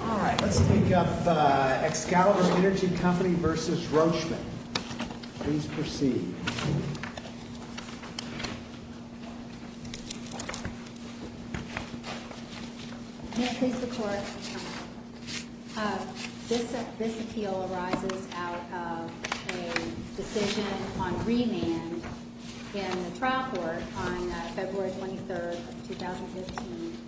All right, let's pick up Excalibur Energy Co. v. Rochman. Please proceed. May I please report? This appeal arises out of a decision on remand in the trial court on February 23, 2015,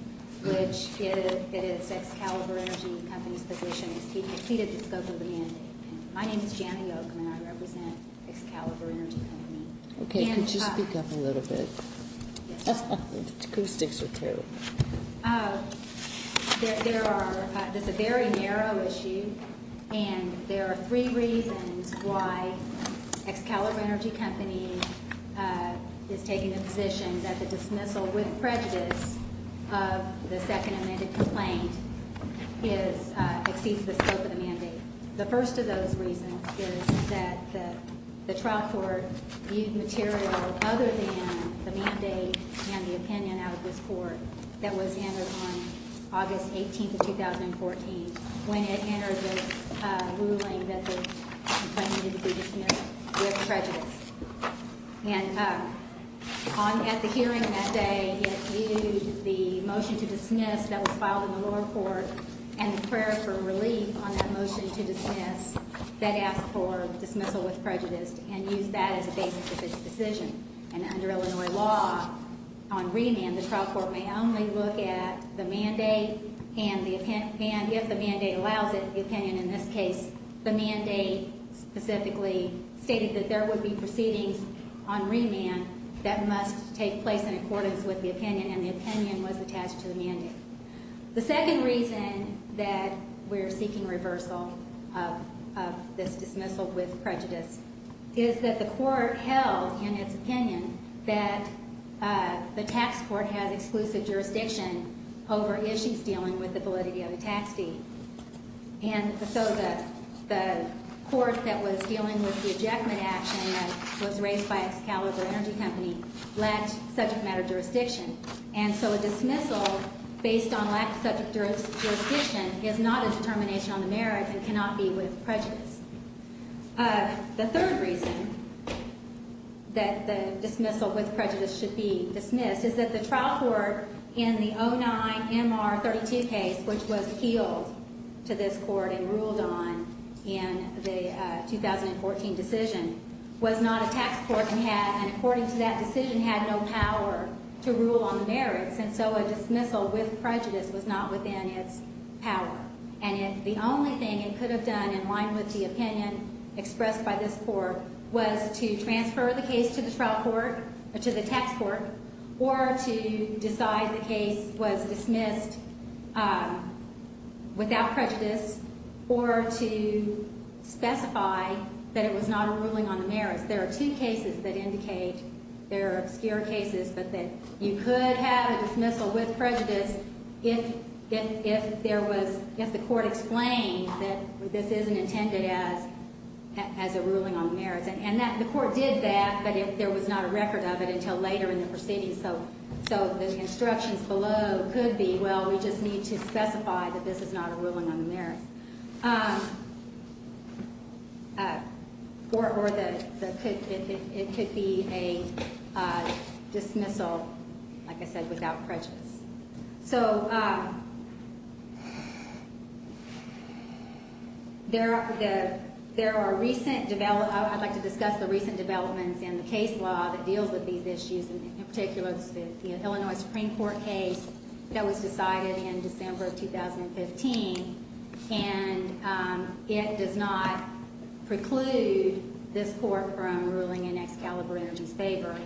which it is Excalibur Energy Co.'s position to exceed the scope of the mandate. My name is Janet Oakman. I represent Excalibur Energy Co. Okay, could you speak up a little bit? Yes. The acoustics are terrible. There are – this is a very narrow issue, and there are three reasons why Excalibur Energy Co. is taking the position that the dismissal with prejudice of the second amended complaint is – exceeds the scope of the mandate. The first of those reasons is that the trial court viewed material other than the mandate and the opinion out of this court that was entered on August 18, 2014, when it entered the ruling that the complaint needed to be dismissed with prejudice. And at the hearing that day, it viewed the motion to dismiss that was filed in the lower court and the prayer for relief on that motion to dismiss that asked for dismissal with prejudice and used that as a basis of its decision. And under Illinois law, on remand, the trial court may only look at the mandate and the – and if the mandate allows it, the opinion in this case, the mandate specifically stated that there would be proceedings on remand that must take place in accordance with the opinion, and the opinion was attached to the mandate. The second reason that we're seeking reversal of this dismissal with prejudice is that the court held in its opinion that the tax court has exclusive jurisdiction over issues dealing with the validity of the tax fee. And so the court that was dealing with the ejectment action that was raised by Excalibur Energy Company lacked subject matter jurisdiction. And so a dismissal based on lack of subject jurisdiction is not a determination on the merits and cannot be with prejudice. The third reason that the dismissal with prejudice should be dismissed is that the trial court in the 09-MR-32 case, which was appealed to this court and ruled on in the 2014 decision, was not a tax court and had – and according to that decision, had no power to rule on the merits. And so a dismissal with prejudice was not within its power. And if the only thing it could have done in line with the opinion expressed by this court was to transfer the case to the trial court or to the tax court or to decide the case was dismissed without prejudice or to specify that it was not a ruling on the merits, there are two cases that indicate – there are obscure cases, but that you could have a dismissal with prejudice if there was – if there was a claim that this isn't intended as a ruling on the merits. And the court did that, but there was not a record of it until later in the proceeding. So the instructions below could be, well, we just need to specify that this is not a ruling on the merits. Or it could be a dismissal, like I said, without prejudice. So there are – there are recent – I'd like to discuss the recent developments in the case law that deals with these issues, and in particular the Illinois Supreme Court case that was decided in December of 2015. And it does not preclude this court from ruling in Excalibur Energy's favor.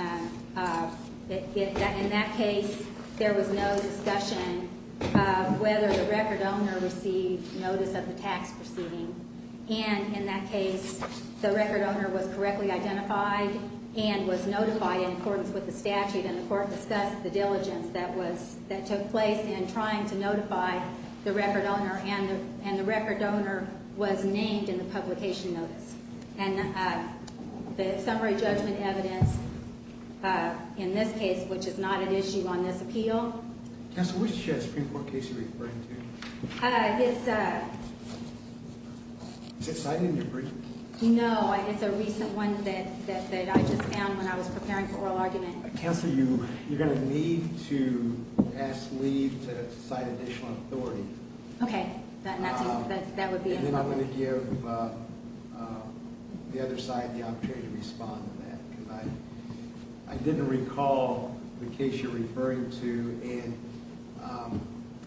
In that case, there was no discussion of whether the record owner received notice of the tax proceeding. And in that case, the record owner was correctly identified and was notified in accordance with the statute. And the court discussed the diligence that was – that took place in trying to notify the record owner, and the record owner was named in the publication notice. And the summary judgment evidence in this case, which is not an issue on this appeal – Counsel, which Supreme Court case are you referring to? It's – Is it cited in your brief? No, it's a recent one that I just found when I was preparing for oral argument. Counsel, you're going to need to ask Lee to cite additional authority. Okay, that would be – And then I'm going to give the other side the opportunity to respond to that, because I didn't recall the case you're referring to. And,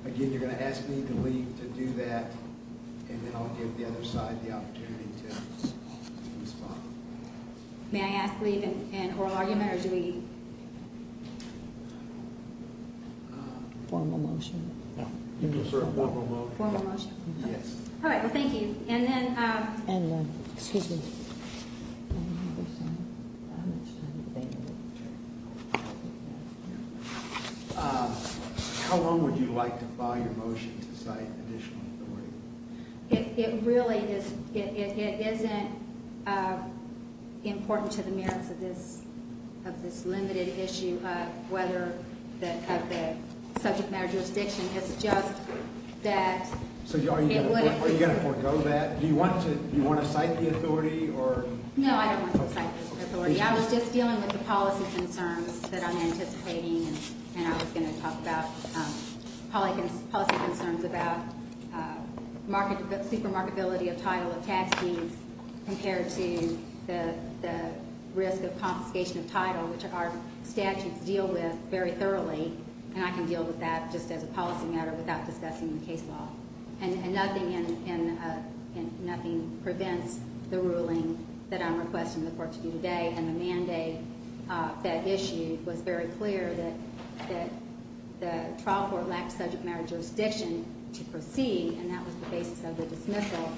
again, you're going to ask me to leave to do that, and then I'll give the other side the opportunity to respond. May I ask Lee to end oral argument, or do we – Formal motion. Yes, sir, formal motion. Formal motion. Yes. All right, well, thank you. And then – Excuse me. How long would you like to file your motion to cite additional authority? It really is – it isn't important to the merits of this limited issue of whether – of the subject matter jurisdiction. It's just that it would – So are you going to forego that? Do you want to cite the authority, or – No, I don't want to cite the authority. I was just dealing with the policy concerns that I'm anticipating, and I was going to talk about policy concerns about supermarketability of title of tax deeds compared to the risk of confiscation of title, which our statutes deal with very thoroughly, and I can deal with that just as a policy matter without discussing the case law. And nothing prevents the ruling that I'm requesting the Court to do today, and the mandate that issue was very clear that the trial court lacked subject matter jurisdiction to proceed, and that was the basis of the dismissal.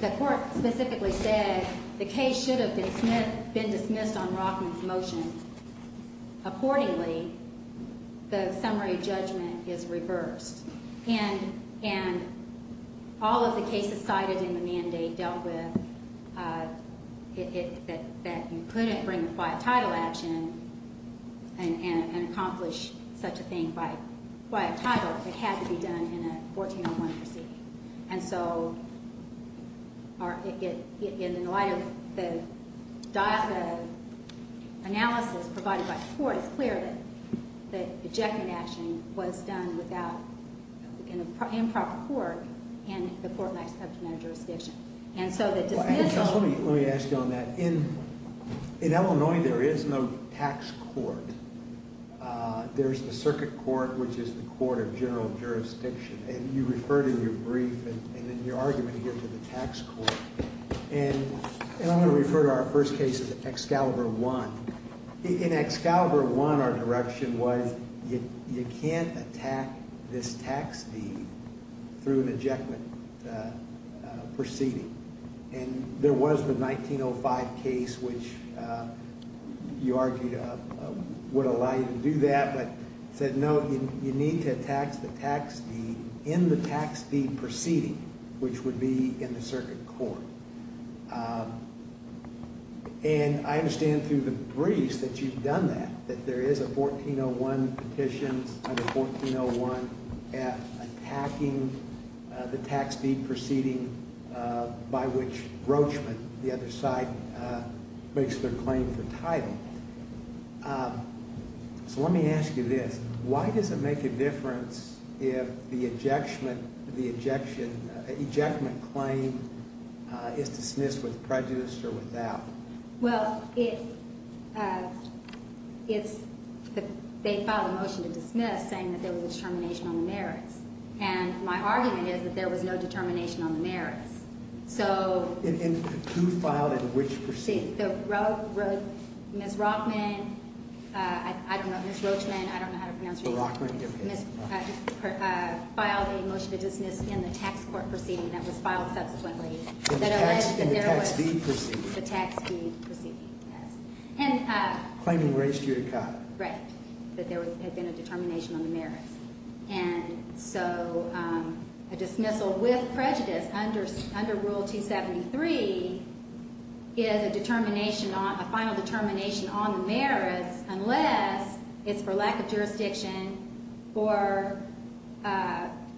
The Court specifically said the case should have been dismissed on Rockman's motion. Accordingly, the summary judgment is reversed, and all of the cases cited in the mandate dealt with that you couldn't bring a quiet title action and accomplish such a thing by quiet title. It had to be done in a 1401 proceeding. And so in light of the analysis provided by the Court, it's clear that the ejection action was done without improper court and the Court lacks subject matter jurisdiction. And so the dismissal – Let me ask you on that. In Illinois, there is no tax court. There's a circuit court, which is the court of general jurisdiction, and you referred in your brief and in your argument here to the tax court. And I'm going to refer to our first case as Excalibur I. In Excalibur I, our direction was you can't attack this tax deed through an ejectment proceeding. And there was the 1905 case, which you argued would allow you to do that, but said no, you need to attack the tax deed in the tax deed proceeding, which would be in the circuit court. And I understand through the briefs that you've done that, that there is a 1401 petition under 1401F attacking the tax deed proceeding by which Roachman, the other side, makes their claim for title. So let me ask you this. Why does it make a difference if the ejection – the ejection – ejectment claim is dismissed with prejudice or without? Well, it's – they filed a motion to dismiss saying that there was determination on the merits. And my argument is that there was no determination on the merits. So – And who filed and which proceeding? The – Ms. Roachman – I don't know, Ms. Roachman, I don't know how to pronounce her name. The Roachman case. Filed a motion to dismiss in the tax court proceeding that was filed subsequently. In the tax deed proceeding. The tax deed proceeding, yes. And – Claiming race to your cut. Right. That there had been a determination on the merits. And so a dismissal with prejudice under Rule 273 is a determination on – a final determination on the merits unless it's for lack of jurisdiction or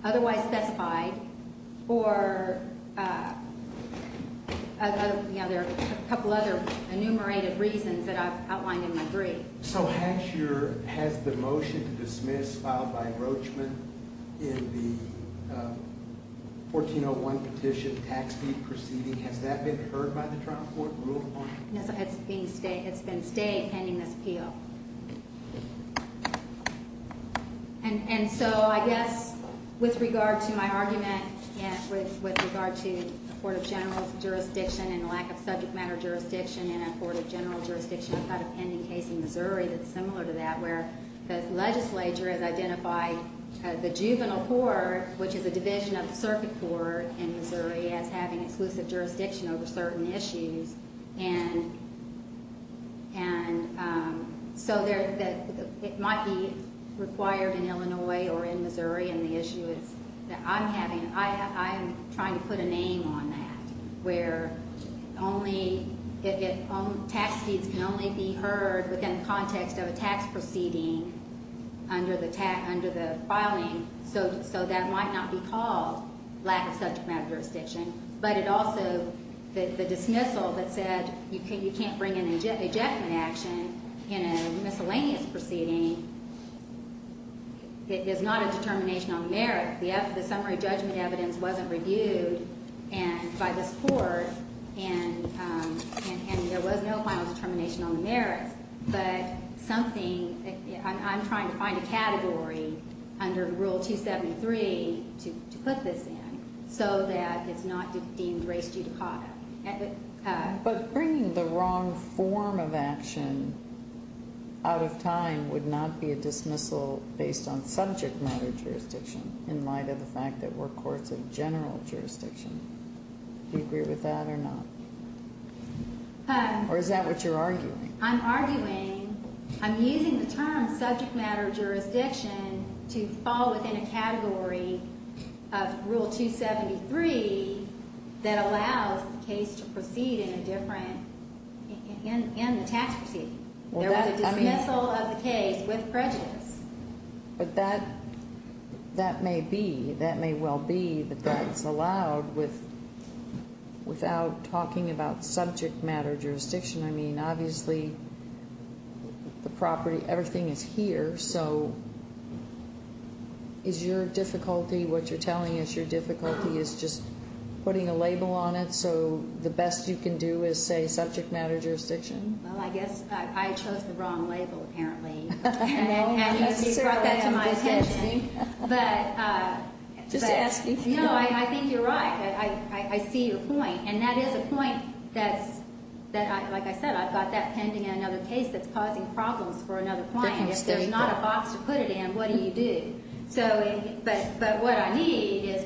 otherwise specified or – you know, there are a couple other enumerated reasons that I've outlined in my brief. So has your – has the motion to dismiss filed by Roachman in the 1401 petition tax deed proceeding, has that been heard by the trial court rule on it? No, it's being – it's been stayed pending this appeal. And so I guess with regard to my argument and with regard to a court of general jurisdiction and a lack of subject matter jurisdiction in a court of general jurisdiction, I've got a pending case in Missouri that's similar to that where the legislature has identified the juvenile court, which is a division of the circuit court in Missouri, as having exclusive jurisdiction over certain issues. And so it might be required in Illinois or in Missouri, and the issue is that I'm having – where only – tax deeds can only be heard within the context of a tax proceeding under the filing. So that might not be called lack of subject matter jurisdiction. But it also – the dismissal that said you can't bring an ejectment action in a miscellaneous proceeding is not a determination on merit. The summary judgment evidence wasn't reviewed by this court, and there was no final determination on the merits. But something – I'm trying to find a category under Rule 273 to put this in so that it's not deemed race judicata. But bringing the wrong form of action out of time would not be a dismissal based on subject matter jurisdiction in light of the fact that we're courts of general jurisdiction. Do you agree with that or not? Or is that what you're arguing? I'm arguing – I'm using the term subject matter jurisdiction to fall within a category of Rule 273 that allows the case to proceed in a different – in the tax proceeding. There was a dismissal of the case with prejudice. But that may be – that may well be that that's allowed with – without talking about subject matter jurisdiction. I mean, obviously, the property – everything is here. So is your difficulty – what you're telling us your difficulty is just putting a label on it so the best you can do is say subject matter jurisdiction? Well, I guess I chose the wrong label apparently. And you brought that to my attention. Just asking. No, I think you're right. I see your point. And that is a point that's – like I said, I've got that pending in another case that's causing problems for another client. If there's not a box to put it in, what do you do? But what I need is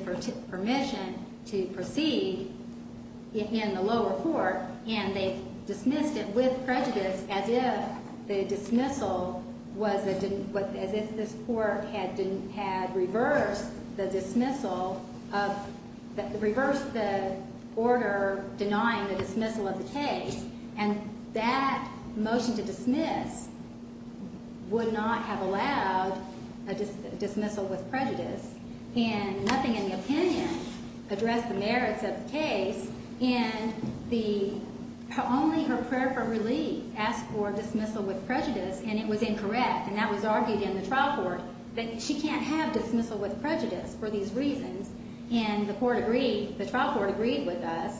permission to proceed in the lower court. And they dismissed it with prejudice as if the dismissal was – as if this court had reversed the dismissal of – reversed the order denying the dismissal of the case. And that motion to dismiss would not have allowed a dismissal with prejudice. And nothing in the opinion addressed the merits of the case. And the – only her prayer for relief asked for dismissal with prejudice, and it was incorrect. And that was argued in the trial court that she can't have dismissal with prejudice for these reasons. And the court agreed – the trial court agreed with us.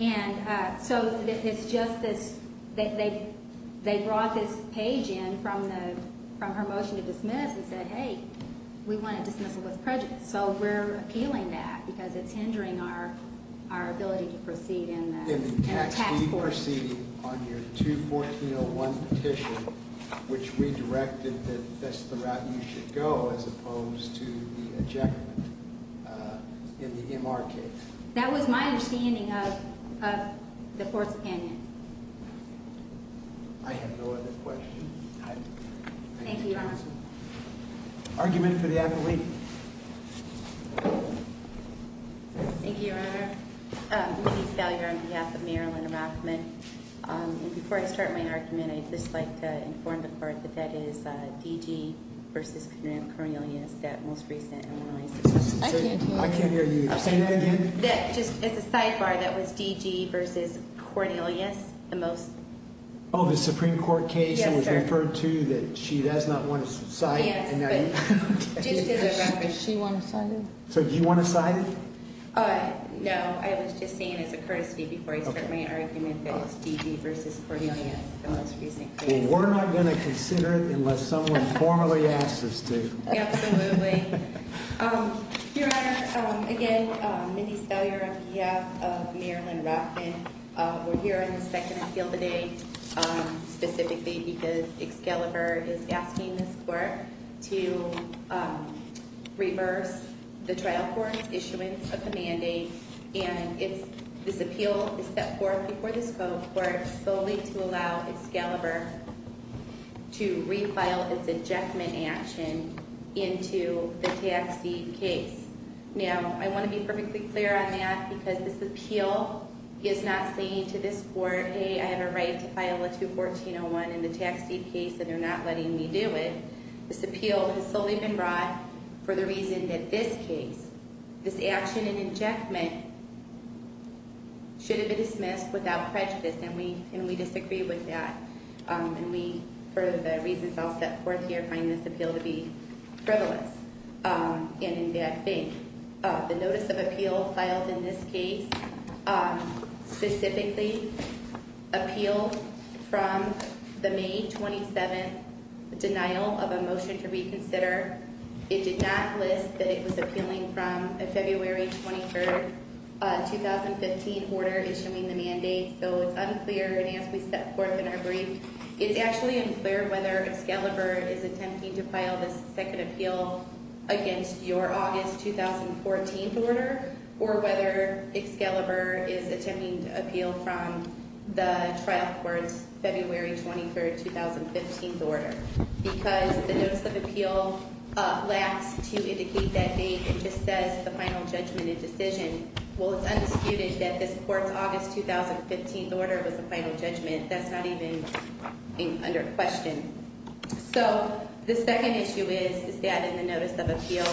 And so it's just this – they brought this page in from the – from her motion to dismiss and said, hey, we want a dismissal with prejudice. So we're appealing that because it's hindering our ability to proceed in the tax court. In the text, you're proceeding on your 214.01 petition, which redirected that that's the route you should go as opposed to the ejectment in the MR case. That was my understanding of the court's opinion. I have no other questions. Thank you, Your Honor. Argument for the athlete. Thank you, Your Honor. Louise Fowler on behalf of Marilyn Rockman. And before I start my argument, I'd just like to inform the court that that is DG v. Cornelius, that most recent – I can't hear you. Say that again. Just as a sidebar, that was DG v. Cornelius, the most – Oh, the Supreme Court case that was referred to that she does not want to cite. Yes, but just as a reference. Does she want to cite it? So do you want to cite it? No, I was just saying as a courtesy before I start my argument that it's DG v. Cornelius, the most recent case. Well, we're not going to consider it unless someone formally asks us to. Absolutely. Your Honor, again, Mindy Spellier on behalf of Marilyn Rockman. We're here on the second appeal today specifically because Excalibur is asking this court to reverse the trial court's issuance of the mandate. And this appeal is set forth before this court solely to allow Excalibur to refile its injectment action into the tax deed case. Now, I want to be perfectly clear on that because this appeal is not saying to this court, hey, I have a right to file a 214-01 in the tax deed case and they're not letting me do it. This appeal has solely been brought for the reason that this case, this action in injectment, should have been dismissed without prejudice. And we disagree with that. And we, for the reasons I'll set forth here, find this appeal to be frivolous and in bad faith. The notice of appeal filed in this case specifically appealed from the May 27th denial of a motion to reconsider. It did not list that it was appealing from a February 23rd, 2015 order issuing the mandate. So it's unclear. And as we set forth in our brief, it's actually unclear whether Excalibur is attempting to file this second appeal against your August 2014 order or whether Excalibur is attempting to appeal from the trial court's February 23rd, 2015 order. Because the notice of appeal lacks to indicate that date. It just says the final judgment and decision. Well, it's undisputed that this court's August 2015 order was the final judgment. That's not even under question. So the second issue is that in the notice of appeal,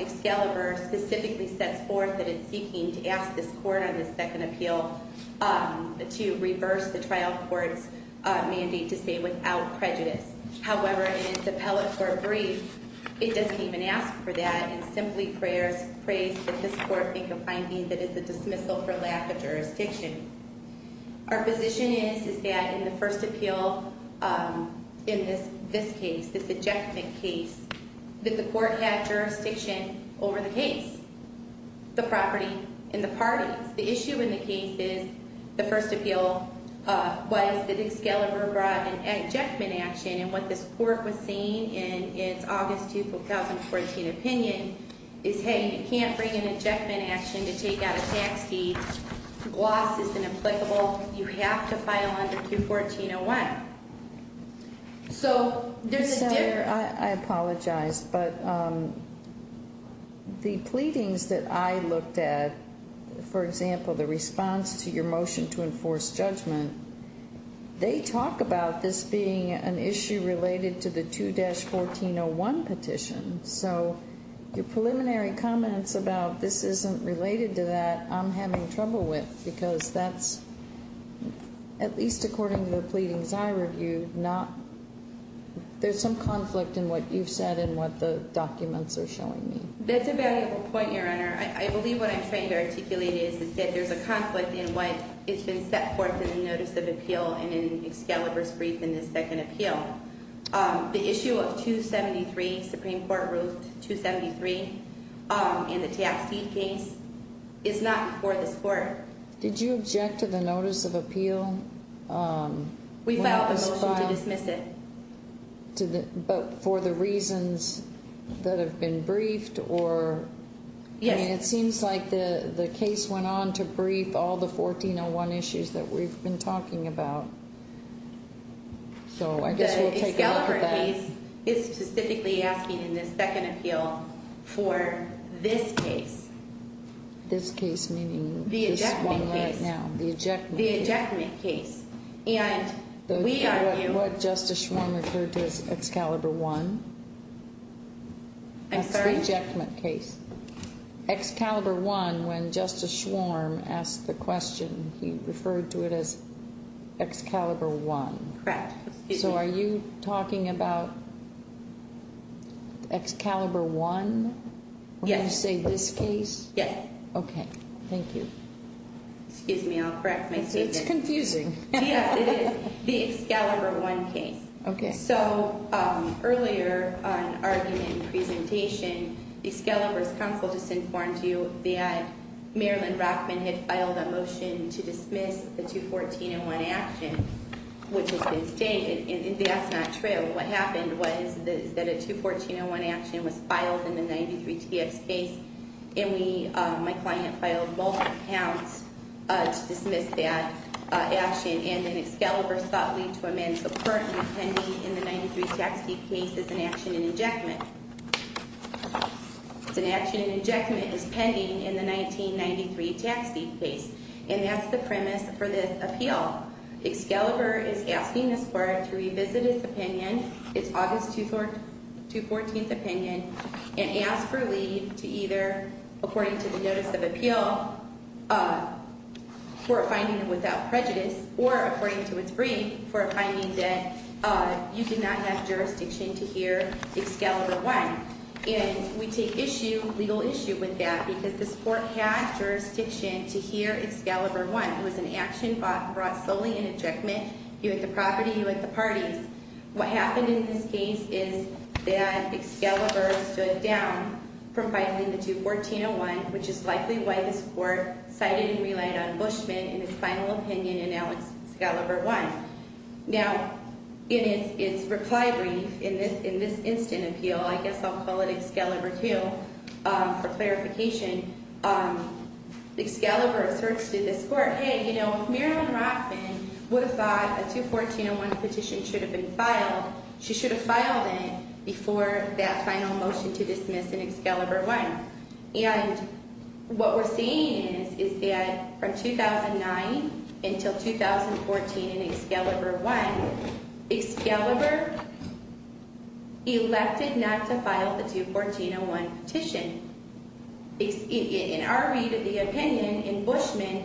Excalibur specifically sets forth that it's seeking to ask this court on this second appeal to reverse the trial court's mandate to stay without prejudice. However, in its appellate court brief, it doesn't even ask for that. It simply prays that this court make a finding that it's a dismissal for lack of jurisdiction. Our position is that in the first appeal in this case, this ejectment case, that the court had jurisdiction over the case, the property, and the parties. The issue in the case is the first appeal was that Excalibur brought an ejectment action. And what this court was saying in its August 2014 opinion is, hey, you can't bring an ejectment action to take out a tax deed. Loss is inapplicable. You have to file under Q1401. So there's a difference. I apologize, but the pleadings that I looked at, for example, the response to your motion to enforce judgment, they talk about this being an issue related to the 2-1401 petition. So your preliminary comments about this isn't related to that, I'm having trouble with, because that's, at least according to the pleadings I reviewed, there's some conflict in what you've said and what the documents are showing me. That's a valuable point, Your Honor. I believe what I'm trying to articulate is that there's a conflict in what has been set forth in the notice of appeal and in Excalibur's brief in the second appeal. The issue of 273, Supreme Court Rule 273, and the tax deed case, is not before this court. Did you object to the notice of appeal? We filed the motion to dismiss it. But for the reasons that have been briefed or ‑‑ Yes. I mean, it seems like the case went on to brief all the 1401 issues that we've been talking about. So I guess we'll take a look at that. The Excalibur case is specifically asking in the second appeal for this case. This case, meaning this one right now. The ejectment case. The ejectment case. The ejectment case. And we argue ‑‑ What Justice Schwarm referred to as Excalibur I. I'm sorry? That's the ejectment case. Excalibur I, when Justice Schwarm asked the question, he referred to it as Excalibur I. Correct. So are you talking about Excalibur I? Yes. When you say this case? Yes. Okay. Thank you. Excuse me. I'll correct myself. It's confusing. Yeah. It is the Excalibur I case. Okay. So earlier in the argument and presentation, Excalibur's counsel just informed you that Marilyn Rockman had filed a motion to dismiss the 21401 action, which has been stated. And that's not true. What happened was that a 21401 action was filed in the 93TF space, and my client filed multiple counts to dismiss that action. And then Excalibur sought leave to amend the part that was pending in the 93TF case as an action in ejectment. It's an action in ejectment as pending in the 1993TF case. And that's the premise for this appeal. Excalibur is asking this court to revisit its opinion, its August 214th opinion, and ask for leave to either, according to the notice of appeal, for a finding without prejudice, or according to its brief, for a finding that you do not have jurisdiction to hear Excalibur I. And we take issue, legal issue with that, because this court had jurisdiction to hear Excalibur I. It was an action brought solely in ejectment. You hit the property, you hit the parties. What happened in this case is that Excalibur stood down from filing the 21401, which is likely why this court cited and relied on Bushman in its final opinion, and now Excalibur I. Now, in its reply brief, in this instant appeal, I guess I'll call it Excalibur II for clarification, Excalibur asserts to this court, hey, you know, if Marilyn Rothman would have thought a 21401 petition should have been filed, she should have filed it before that final motion to dismiss in Excalibur I. And what we're seeing is that from 2009 until 2014 in Excalibur I, Excalibur elected not to file the 21401 petition. In our read of the opinion, in Bushman,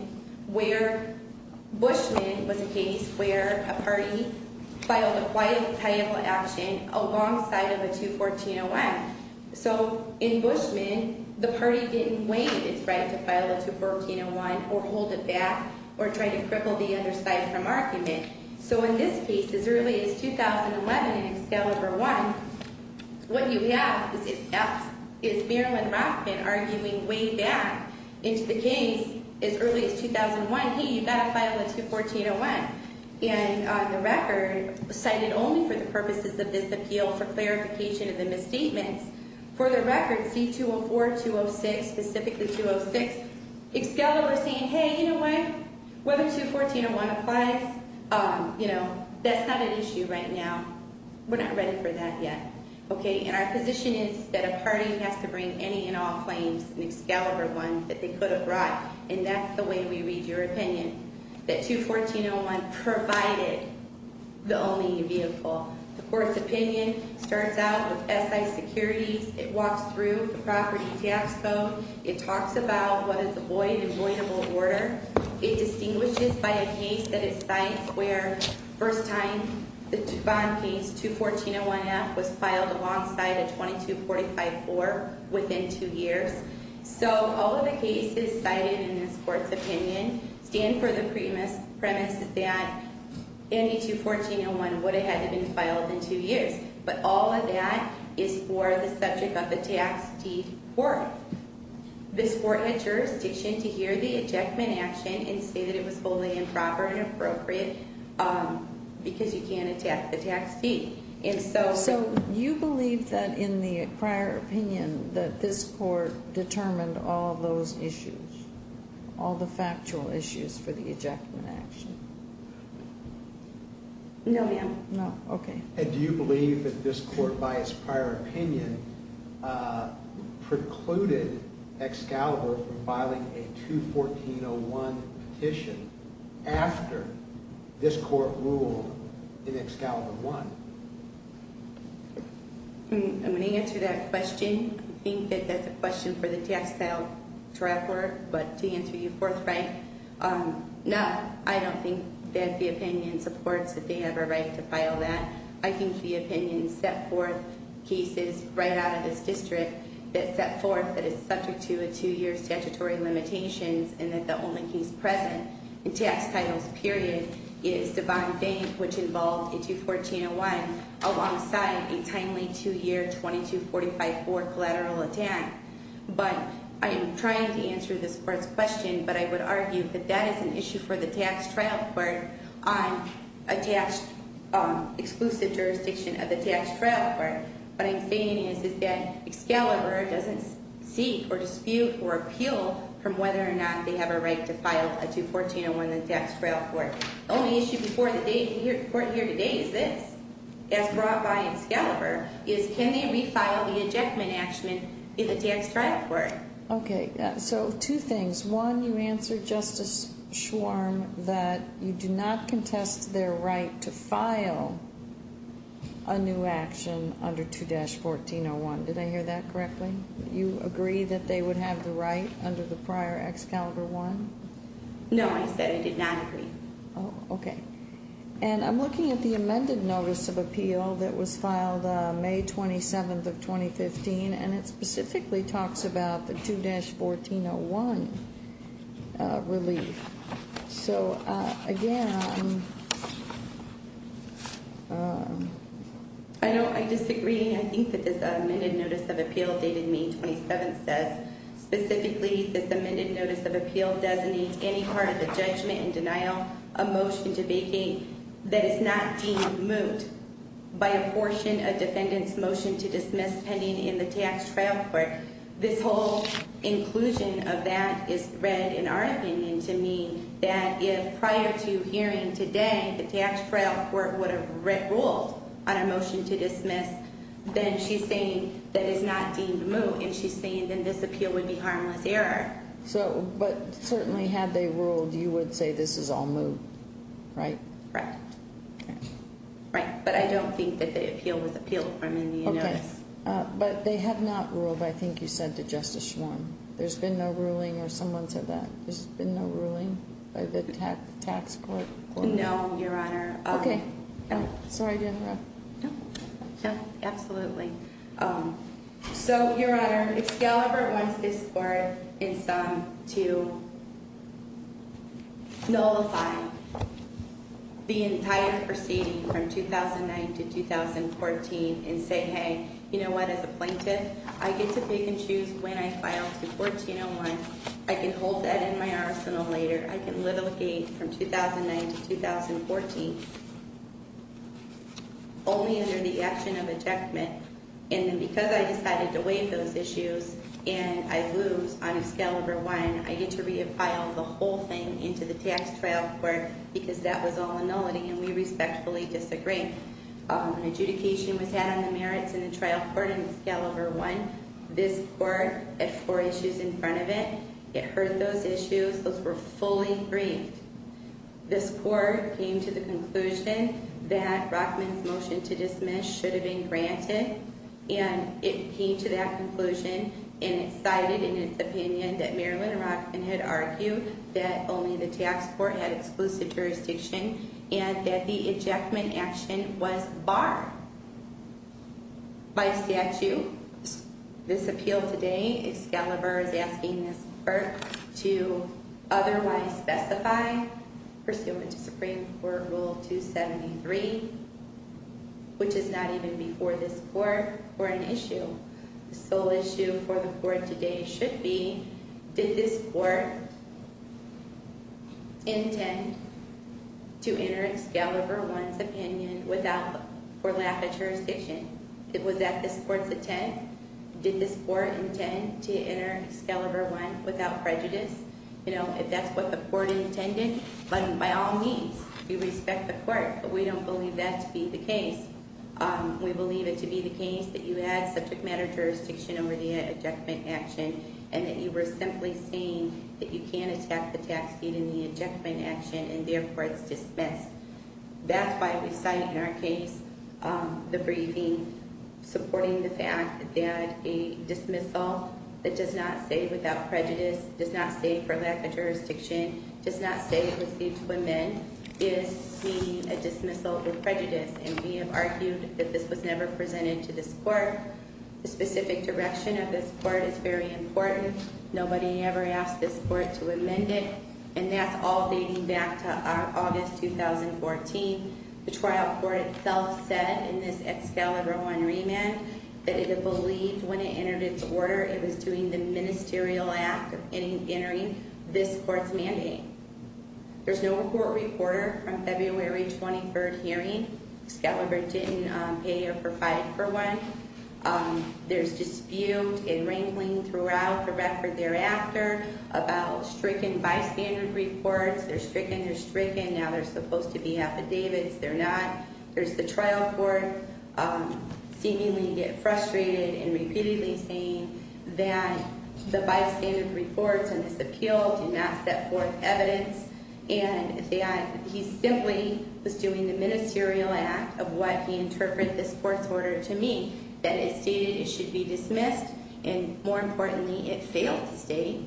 where Bushman was a case where a party filed a quiet title action alongside of a 21401. So in Bushman, the party didn't weigh its right to file a 21401 or hold it back or try to cripple the other side from argument. So in this case, as early as 2011 in Excalibur I, what you have is Marilyn Rothman arguing way back into the case as early as 2001, hey, you've got to file a 21401. And on the record, cited only for the purposes of this appeal for clarification of the misstatements, for the record, C-204, 206, specifically 206, Excalibur is saying, hey, you know what? Whether 21401 applies, you know, that's not an issue right now. We're not ready for that yet. Okay, and our position is that a party has to bring any and all claims in Excalibur I that they could have brought. And that's the way we read your opinion, that 21401 provided the only vehicle. The court's opinion starts out with SI securities. It walks through the property tax code. It talks about what is a void and voidable order. It distinguishes by a case that it cites where first time the bond case 21401F was filed alongside a 22454 within two years. So all of the cases cited in this court's opinion stand for the premise that 221401 would have had to have been filed in two years. But all of that is for the subject of the tax deed court. This court had jurisdiction to hear the ejectment action and say that it was wholly improper and inappropriate because you can't attack the tax deed. So you believe that in the prior opinion that this court determined all of those issues, all the factual issues for the ejection action? No, ma'am. No, okay. And do you believe that this court, by its prior opinion, precluded Excalibur from filing a 21401 petition after this court ruled in Excalibur I? I'm going to answer that question. I think that that's a question for the tax file to refer, but to answer you forthright, no. I don't think that the opinion supports that they have a right to file that. I think the opinion set forth cases right out of this district that set forth that it's subject to a two year statutory limitations. And that the only case present in tax titles period is Divine Bank, which involved a 21401 alongside a timely two year 22454 collateral attack. But I am trying to answer this court's question, but I would argue that that is an issue for the tax trial court on a tax exclusive jurisdiction of the tax trial court. What I'm stating is that Excalibur doesn't seek or dispute or appeal from whether or not they have a right to file a 21401 in the tax trial court. The only issue before the court here today is this. As brought by Excalibur, is can they refile the ejectment action in the tax trial court? Okay, so two things. One, you answered, Justice Schwarm, that you do not contest their right to file a new action under 2-1401. Did I hear that correctly? You agree that they would have the right under the prior Excalibur I? No, I said I did not agree. Okay. And I'm looking at the amended notice of appeal that was filed May 27th of 2015, and it specifically talks about the 2-1401 relief. So, again, I disagree. I think that this amended notice of appeal dated May 27th says, specifically, this amended notice of appeal designates any part of the judgment in denial of motion to vacate that is not deemed moot by a portion of defendant's motion to dismiss pending in the tax trial court. This whole inclusion of that is read, in our opinion, to mean that if prior to hearing today, the tax trial court would have ruled on a motion to dismiss, then she's saying that it's not deemed moot, and she's saying then this appeal would be harmless error. But certainly, had they ruled, you would say this is all moot, right? Right. But I don't think that the appeal was appealed. Okay. But they have not ruled, I think you said to Justice Schwarm. There's been no ruling, or someone said that there's been no ruling by the tax court? No, Your Honor. Okay. Sorry to interrupt. No, absolutely. So, Your Honor, Excalibur wants this court in sum to nullify the entire proceeding from 2009 to 2014 and say, hey, you know what, as a plaintiff, I get to pick and choose when I file to 1401. I can hold that in my arsenal later. I can litigate from 2009 to 2014 only under the action of ejectment, and then because I decided to waive those issues and I lose on Excalibur I, I get to re-apply the whole thing into the tax trial court because that was all a nullity, and we respectfully disagree. An adjudication was had on the merits in the trial court in Excalibur I. This court had four issues in front of it. It heard those issues. Those were fully briefed. This court came to the conclusion that Rockman's motion to dismiss should have been granted, and it came to that conclusion and it cited in its opinion that Marilyn Rockman had argued that only the tax court had exclusive jurisdiction and that the ejectment action was barred by statute. This appeal today, Excalibur is asking this court to otherwise specify pursuant to Supreme Court Rule 273, which is not even before this court, for an issue. The sole issue for the court today should be did this court intend to enter Excalibur I's opinion without or lack of jurisdiction? Was that this court's intent? Did this court intend to enter Excalibur I without prejudice? If that's what the court intended, then by all means, we respect the court, but we don't believe that to be the case. We believe it to be the case that you had subject matter jurisdiction over the ejectment action and that you were simply saying that you can't attack the tax deed in the ejectment action and therefore it's dismissed. That's why we cite in our case the briefing supporting the fact that a dismissal that does not say without prejudice, does not say for lack of jurisdiction, does not say it was due to amend is a dismissal with prejudice and we have argued that this was never presented to this court. The specific direction of this court is very important. Nobody ever asked this court to amend it and that's all dating back to August 2014. The trial court itself said in this Excalibur I remand that it had believed when it entered its order it was doing the ministerial act of entering this court's mandate. There's no court reporter from February 23rd hearing. Excalibur didn't pay or provide for one. There's dispute and wrangling throughout the record thereafter about stricken bystander reports. They're stricken, they're stricken. Now they're supposed to be affidavits. They're not. There's the trial court seemingly getting frustrated and repeatedly saying that the bystander reports and this appeal did not set forth evidence and that he simply was doing the ministerial act of what he interpreted this court's order to mean. That it stated it should be dismissed and more importantly it failed to state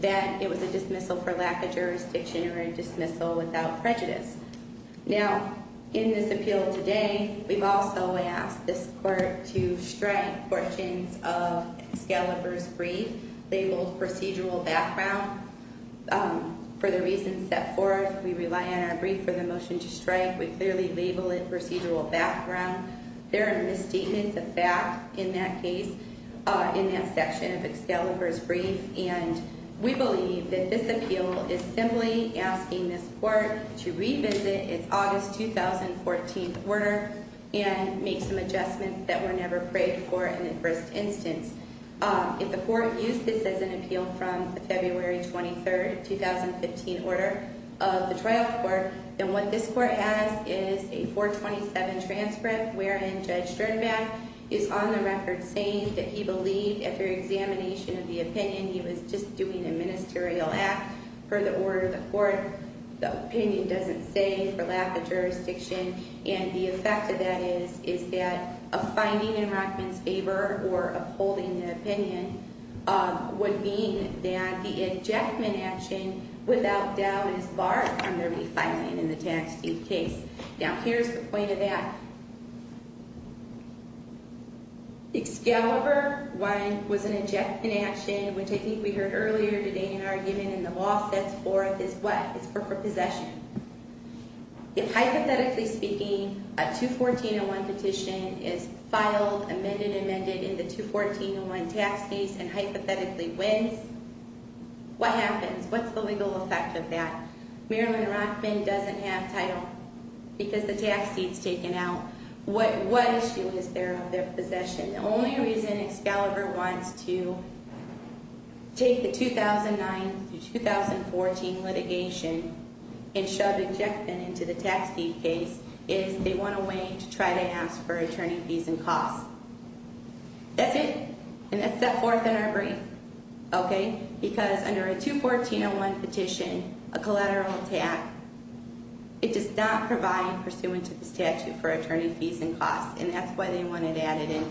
that it was a dismissal for lack of jurisdiction or a dismissal without prejudice. Now in this appeal today we've also asked this court to strike fortunes of Excalibur's brief labeled procedural background. For the reasons set forth we rely on our brief for the motion to strike. We clearly label it procedural background. There are misstatements of fact in that case, in that section of Excalibur's brief and we believe that this appeal is simply asking this court to revisit its August 2014 order and make some adjustments that were never prayed for in the first instance. If the court used this as an appeal from the February 23rd, 2015 order of the trial court then what this court has is a 427 transcript wherein Judge Sternbach is on the record saying that he believed after examination of the opinion he was just doing a ministerial act per the order of the court. The opinion doesn't say for lack of jurisdiction and the effect of that is that a finding in Rockman's favor or upholding the opinion would mean that the injectment action without doubt is barred from there be filing in the tax deed case. Now here's the point of that. Excalibur 1 was an injectment action which I think we heard earlier today in argument in the law sets forth is what? It's for possession. If hypothetically speaking a 214-01 petition is filed, amended, amended in the 214-01 tax deed and hypothetically wins, what happens? What's the legal effect of that? Marilyn Rockman doesn't have title because the tax deed's taken out. What issue is there of their possession? The only reason Excalibur wants to take the 2009-2014 litigation and shove injectment into the tax deed case is they want a way to try to ask for attorney fees and costs. That's it. And that's set forth in our brief, okay, because under a 214-01 petition, a collateral attack, it does not provide pursuant to the statute for attorney fees and costs, and that's why they wanted to add it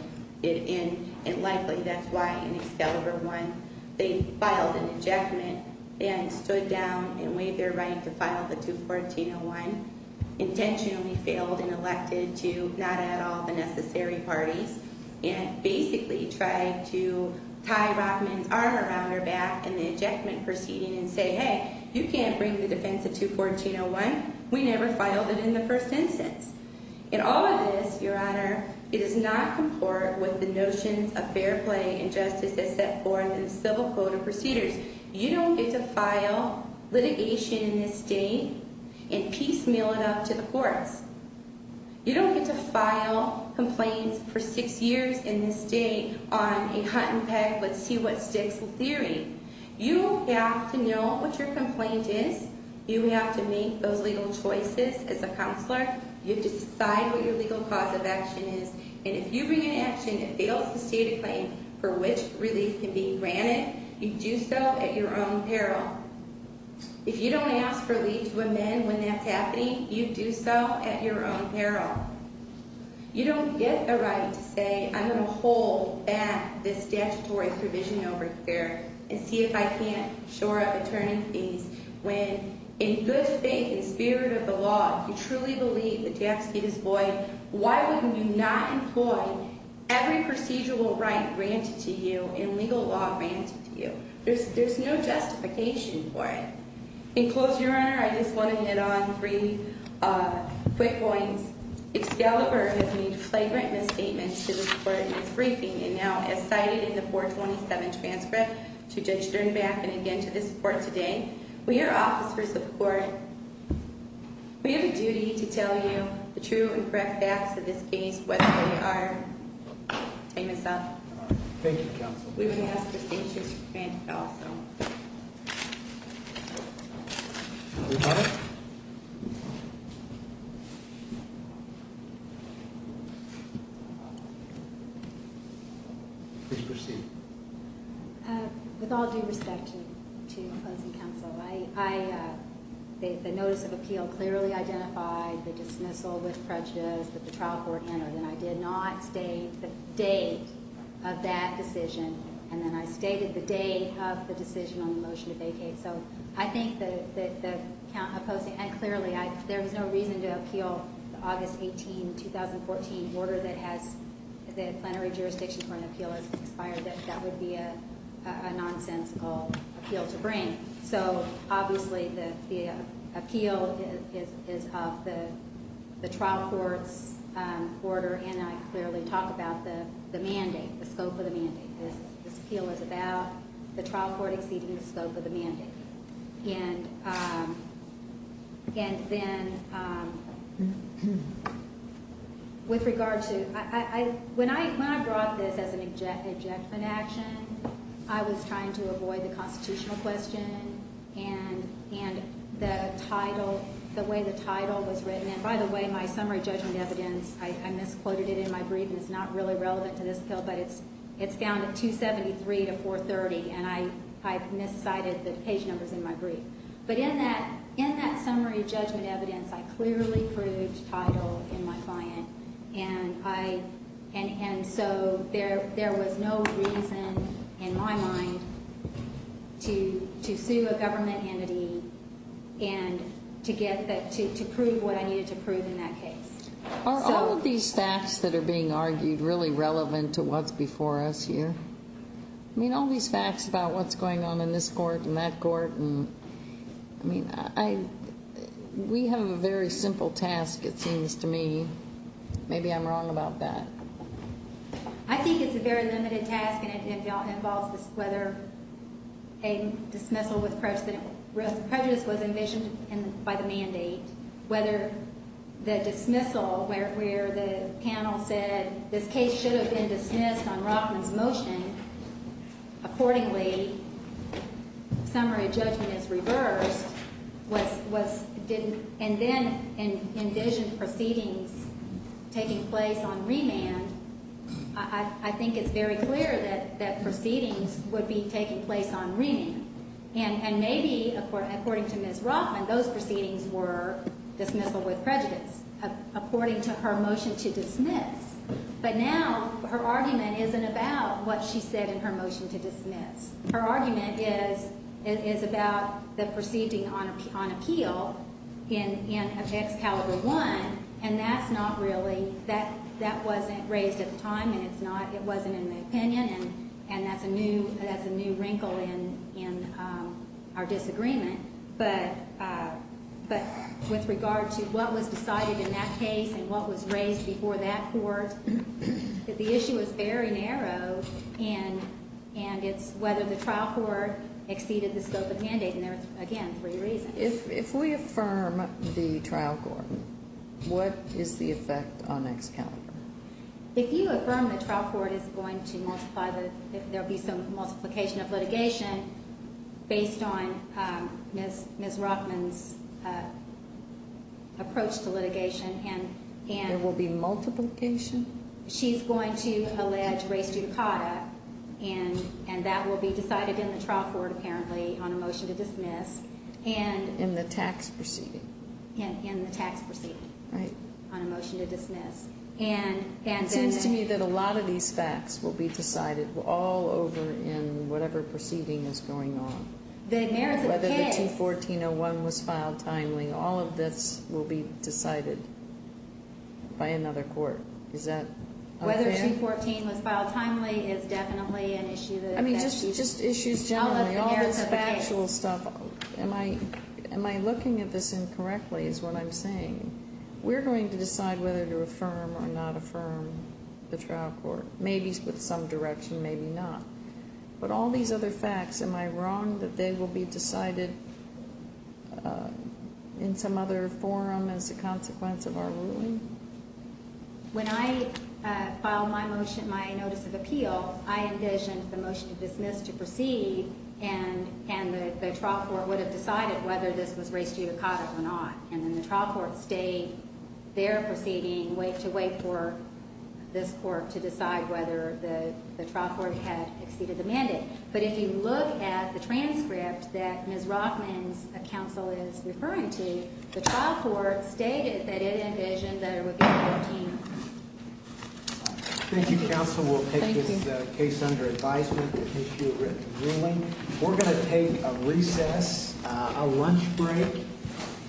in. And likely that's why in Excalibur 1 they filed an injectment and stood down and waived their right to file the 214-01, intentionally failed and elected to not add all the necessary parties and basically tried to tie Rockman's arm around her back in the injectment proceeding and say, hey, you can't bring the defense of 214-01. We never filed it in the first instance. And all of this, Your Honor, it does not comport with the notions of fair play and justice that's set forth in the civil code of procedures. You don't get to file litigation in this state and piecemeal it up to the courts. You don't get to file complaints for six years in this state on a hunt-and-peg, let's see what sticks, theory. You have to know what your complaint is. You have to make those legal choices as a counselor. You have to decide what your legal cause of action is. And if you bring an action that fails to state a claim for which relief can be granted, you do so at your own peril. If you don't ask for relief to amend when that's happening, you do so at your own peril. You don't get a right to say, I'm going to hold back this statutory provision over here and see if I can't shore up attorney fees when, in good faith and spirit of the law, you truly believe the tax gate is void. Why wouldn't you not employ every procedural right granted to you and legal law granted to you? There's no justification for it. In closing, Your Honor, I just want to hit on three quick points. Excalibur has made flagrant misstatements to this court in its briefing and now as cited in the 427 transcript to Judge Sternbach and again to this court today. We are officers of the court. We have a duty to tell you the true and correct facts of this case whether they are... Take this off. Thank you, Counsel. We can ask for signatures for granted also. Thank you, Counsel. Thank you, Your Honor. Please proceed. With all due respect to opposing counsel, the notice of appeal clearly identified the dismissal with prejudice that the trial court entered and I did not state the date of that decision and then I stated the day of the decision on the motion to vacate. So I think that the opposing... And clearly there was no reason to appeal the August 18, 2014 order that has the plenary jurisdiction for an appeal expired that that would be a nonsensical appeal to bring. So obviously the appeal is of the trial court's order and I clearly talked about the mandate, the scope of the mandate. This appeal is about the trial court exceeding the scope of the mandate. And then with regard to... When I brought this as an ejectment action, I was trying to avoid the constitutional question and the title, the way the title was written, and by the way, my summary judgment evidence, I misquoted it in my brief and it's not really relevant to this appeal, but it's found at 273 to 430 and I miscited the page numbers in my brief. But in that summary judgment evidence, I clearly proved title in my client and so there was no reason in my mind to sue a government entity and to prove what I needed to prove in that case. Are all of these facts that are being argued really relevant to what's before us here? I mean all these facts about what's going on in this court and that court and I mean we have a very simple task it seems to me. Maybe I'm wrong about that. I think it's a very limited task and it involves whether a dismissal with prejudice was envisioned by the mandate, whether the dismissal where the panel said this case should have been dismissed on Rockman's motion. Accordingly, summary judgment is reversed and then envisioned proceedings taking place on remand. I think it's very clear that proceedings would be taking place on remand and maybe according to Ms. Rockman, those proceedings were dismissal with prejudice according to her motion to dismiss. But now her argument isn't about what she said in her motion to dismiss. Her argument is about the proceeding on appeal of Excalibur I and that wasn't raised at the time and it wasn't in the opinion and that's a new wrinkle in our disagreement. But with regard to what was decided in that case and what was raised before that court, the issue is very narrow and it's whether the trial court exceeded the scope of mandate and there are, again, three reasons. If we affirm the trial court, what is the effect on Excalibur? If you affirm the trial court is going to multiply the if there will be some multiplication of litigation based on Ms. Rockman's approach to litigation and There will be multiplication? She's going to allege res judicata and that will be decided in the trial court apparently on a motion to dismiss. In the tax proceeding. In the tax proceeding. Right. On a motion to dismiss. It seems to me that a lot of these facts will be decided all over in whatever proceeding is going on. Whether the 214-01 was filed timely, all of this will be decided by another court. Is that fair? Whether 214 was filed timely is definitely an issue. I mean, just issues generally. All this factual stuff. Am I looking at this incorrectly is what I'm saying. We're going to decide whether to affirm or not affirm the trial court. Maybe with some direction, maybe not. But all these other facts, am I wrong that they will be decided in some other forum as a consequence of our ruling? When I filed my motion, my notice of appeal, I envisioned the motion to dismiss to proceed and the trial court would have decided whether this was res judicata or not. And then the trial court stayed there proceeding to wait for this court to decide whether the trial court had exceeded the mandate. But if you look at the transcript that Ms. Rothman's counsel is referring to, the trial court stated that it envisioned that it would be 14. Thank you, counsel. We'll take this case under advisement. We're going to take a recess, a lunch break.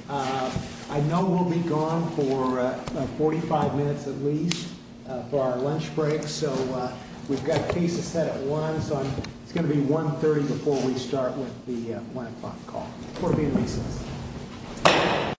I know we'll be gone for 45 minutes at least for our lunch break. So we've got cases set at 1. It's going to be 1.30 before we start with the 1 o'clock call. Court is in recess.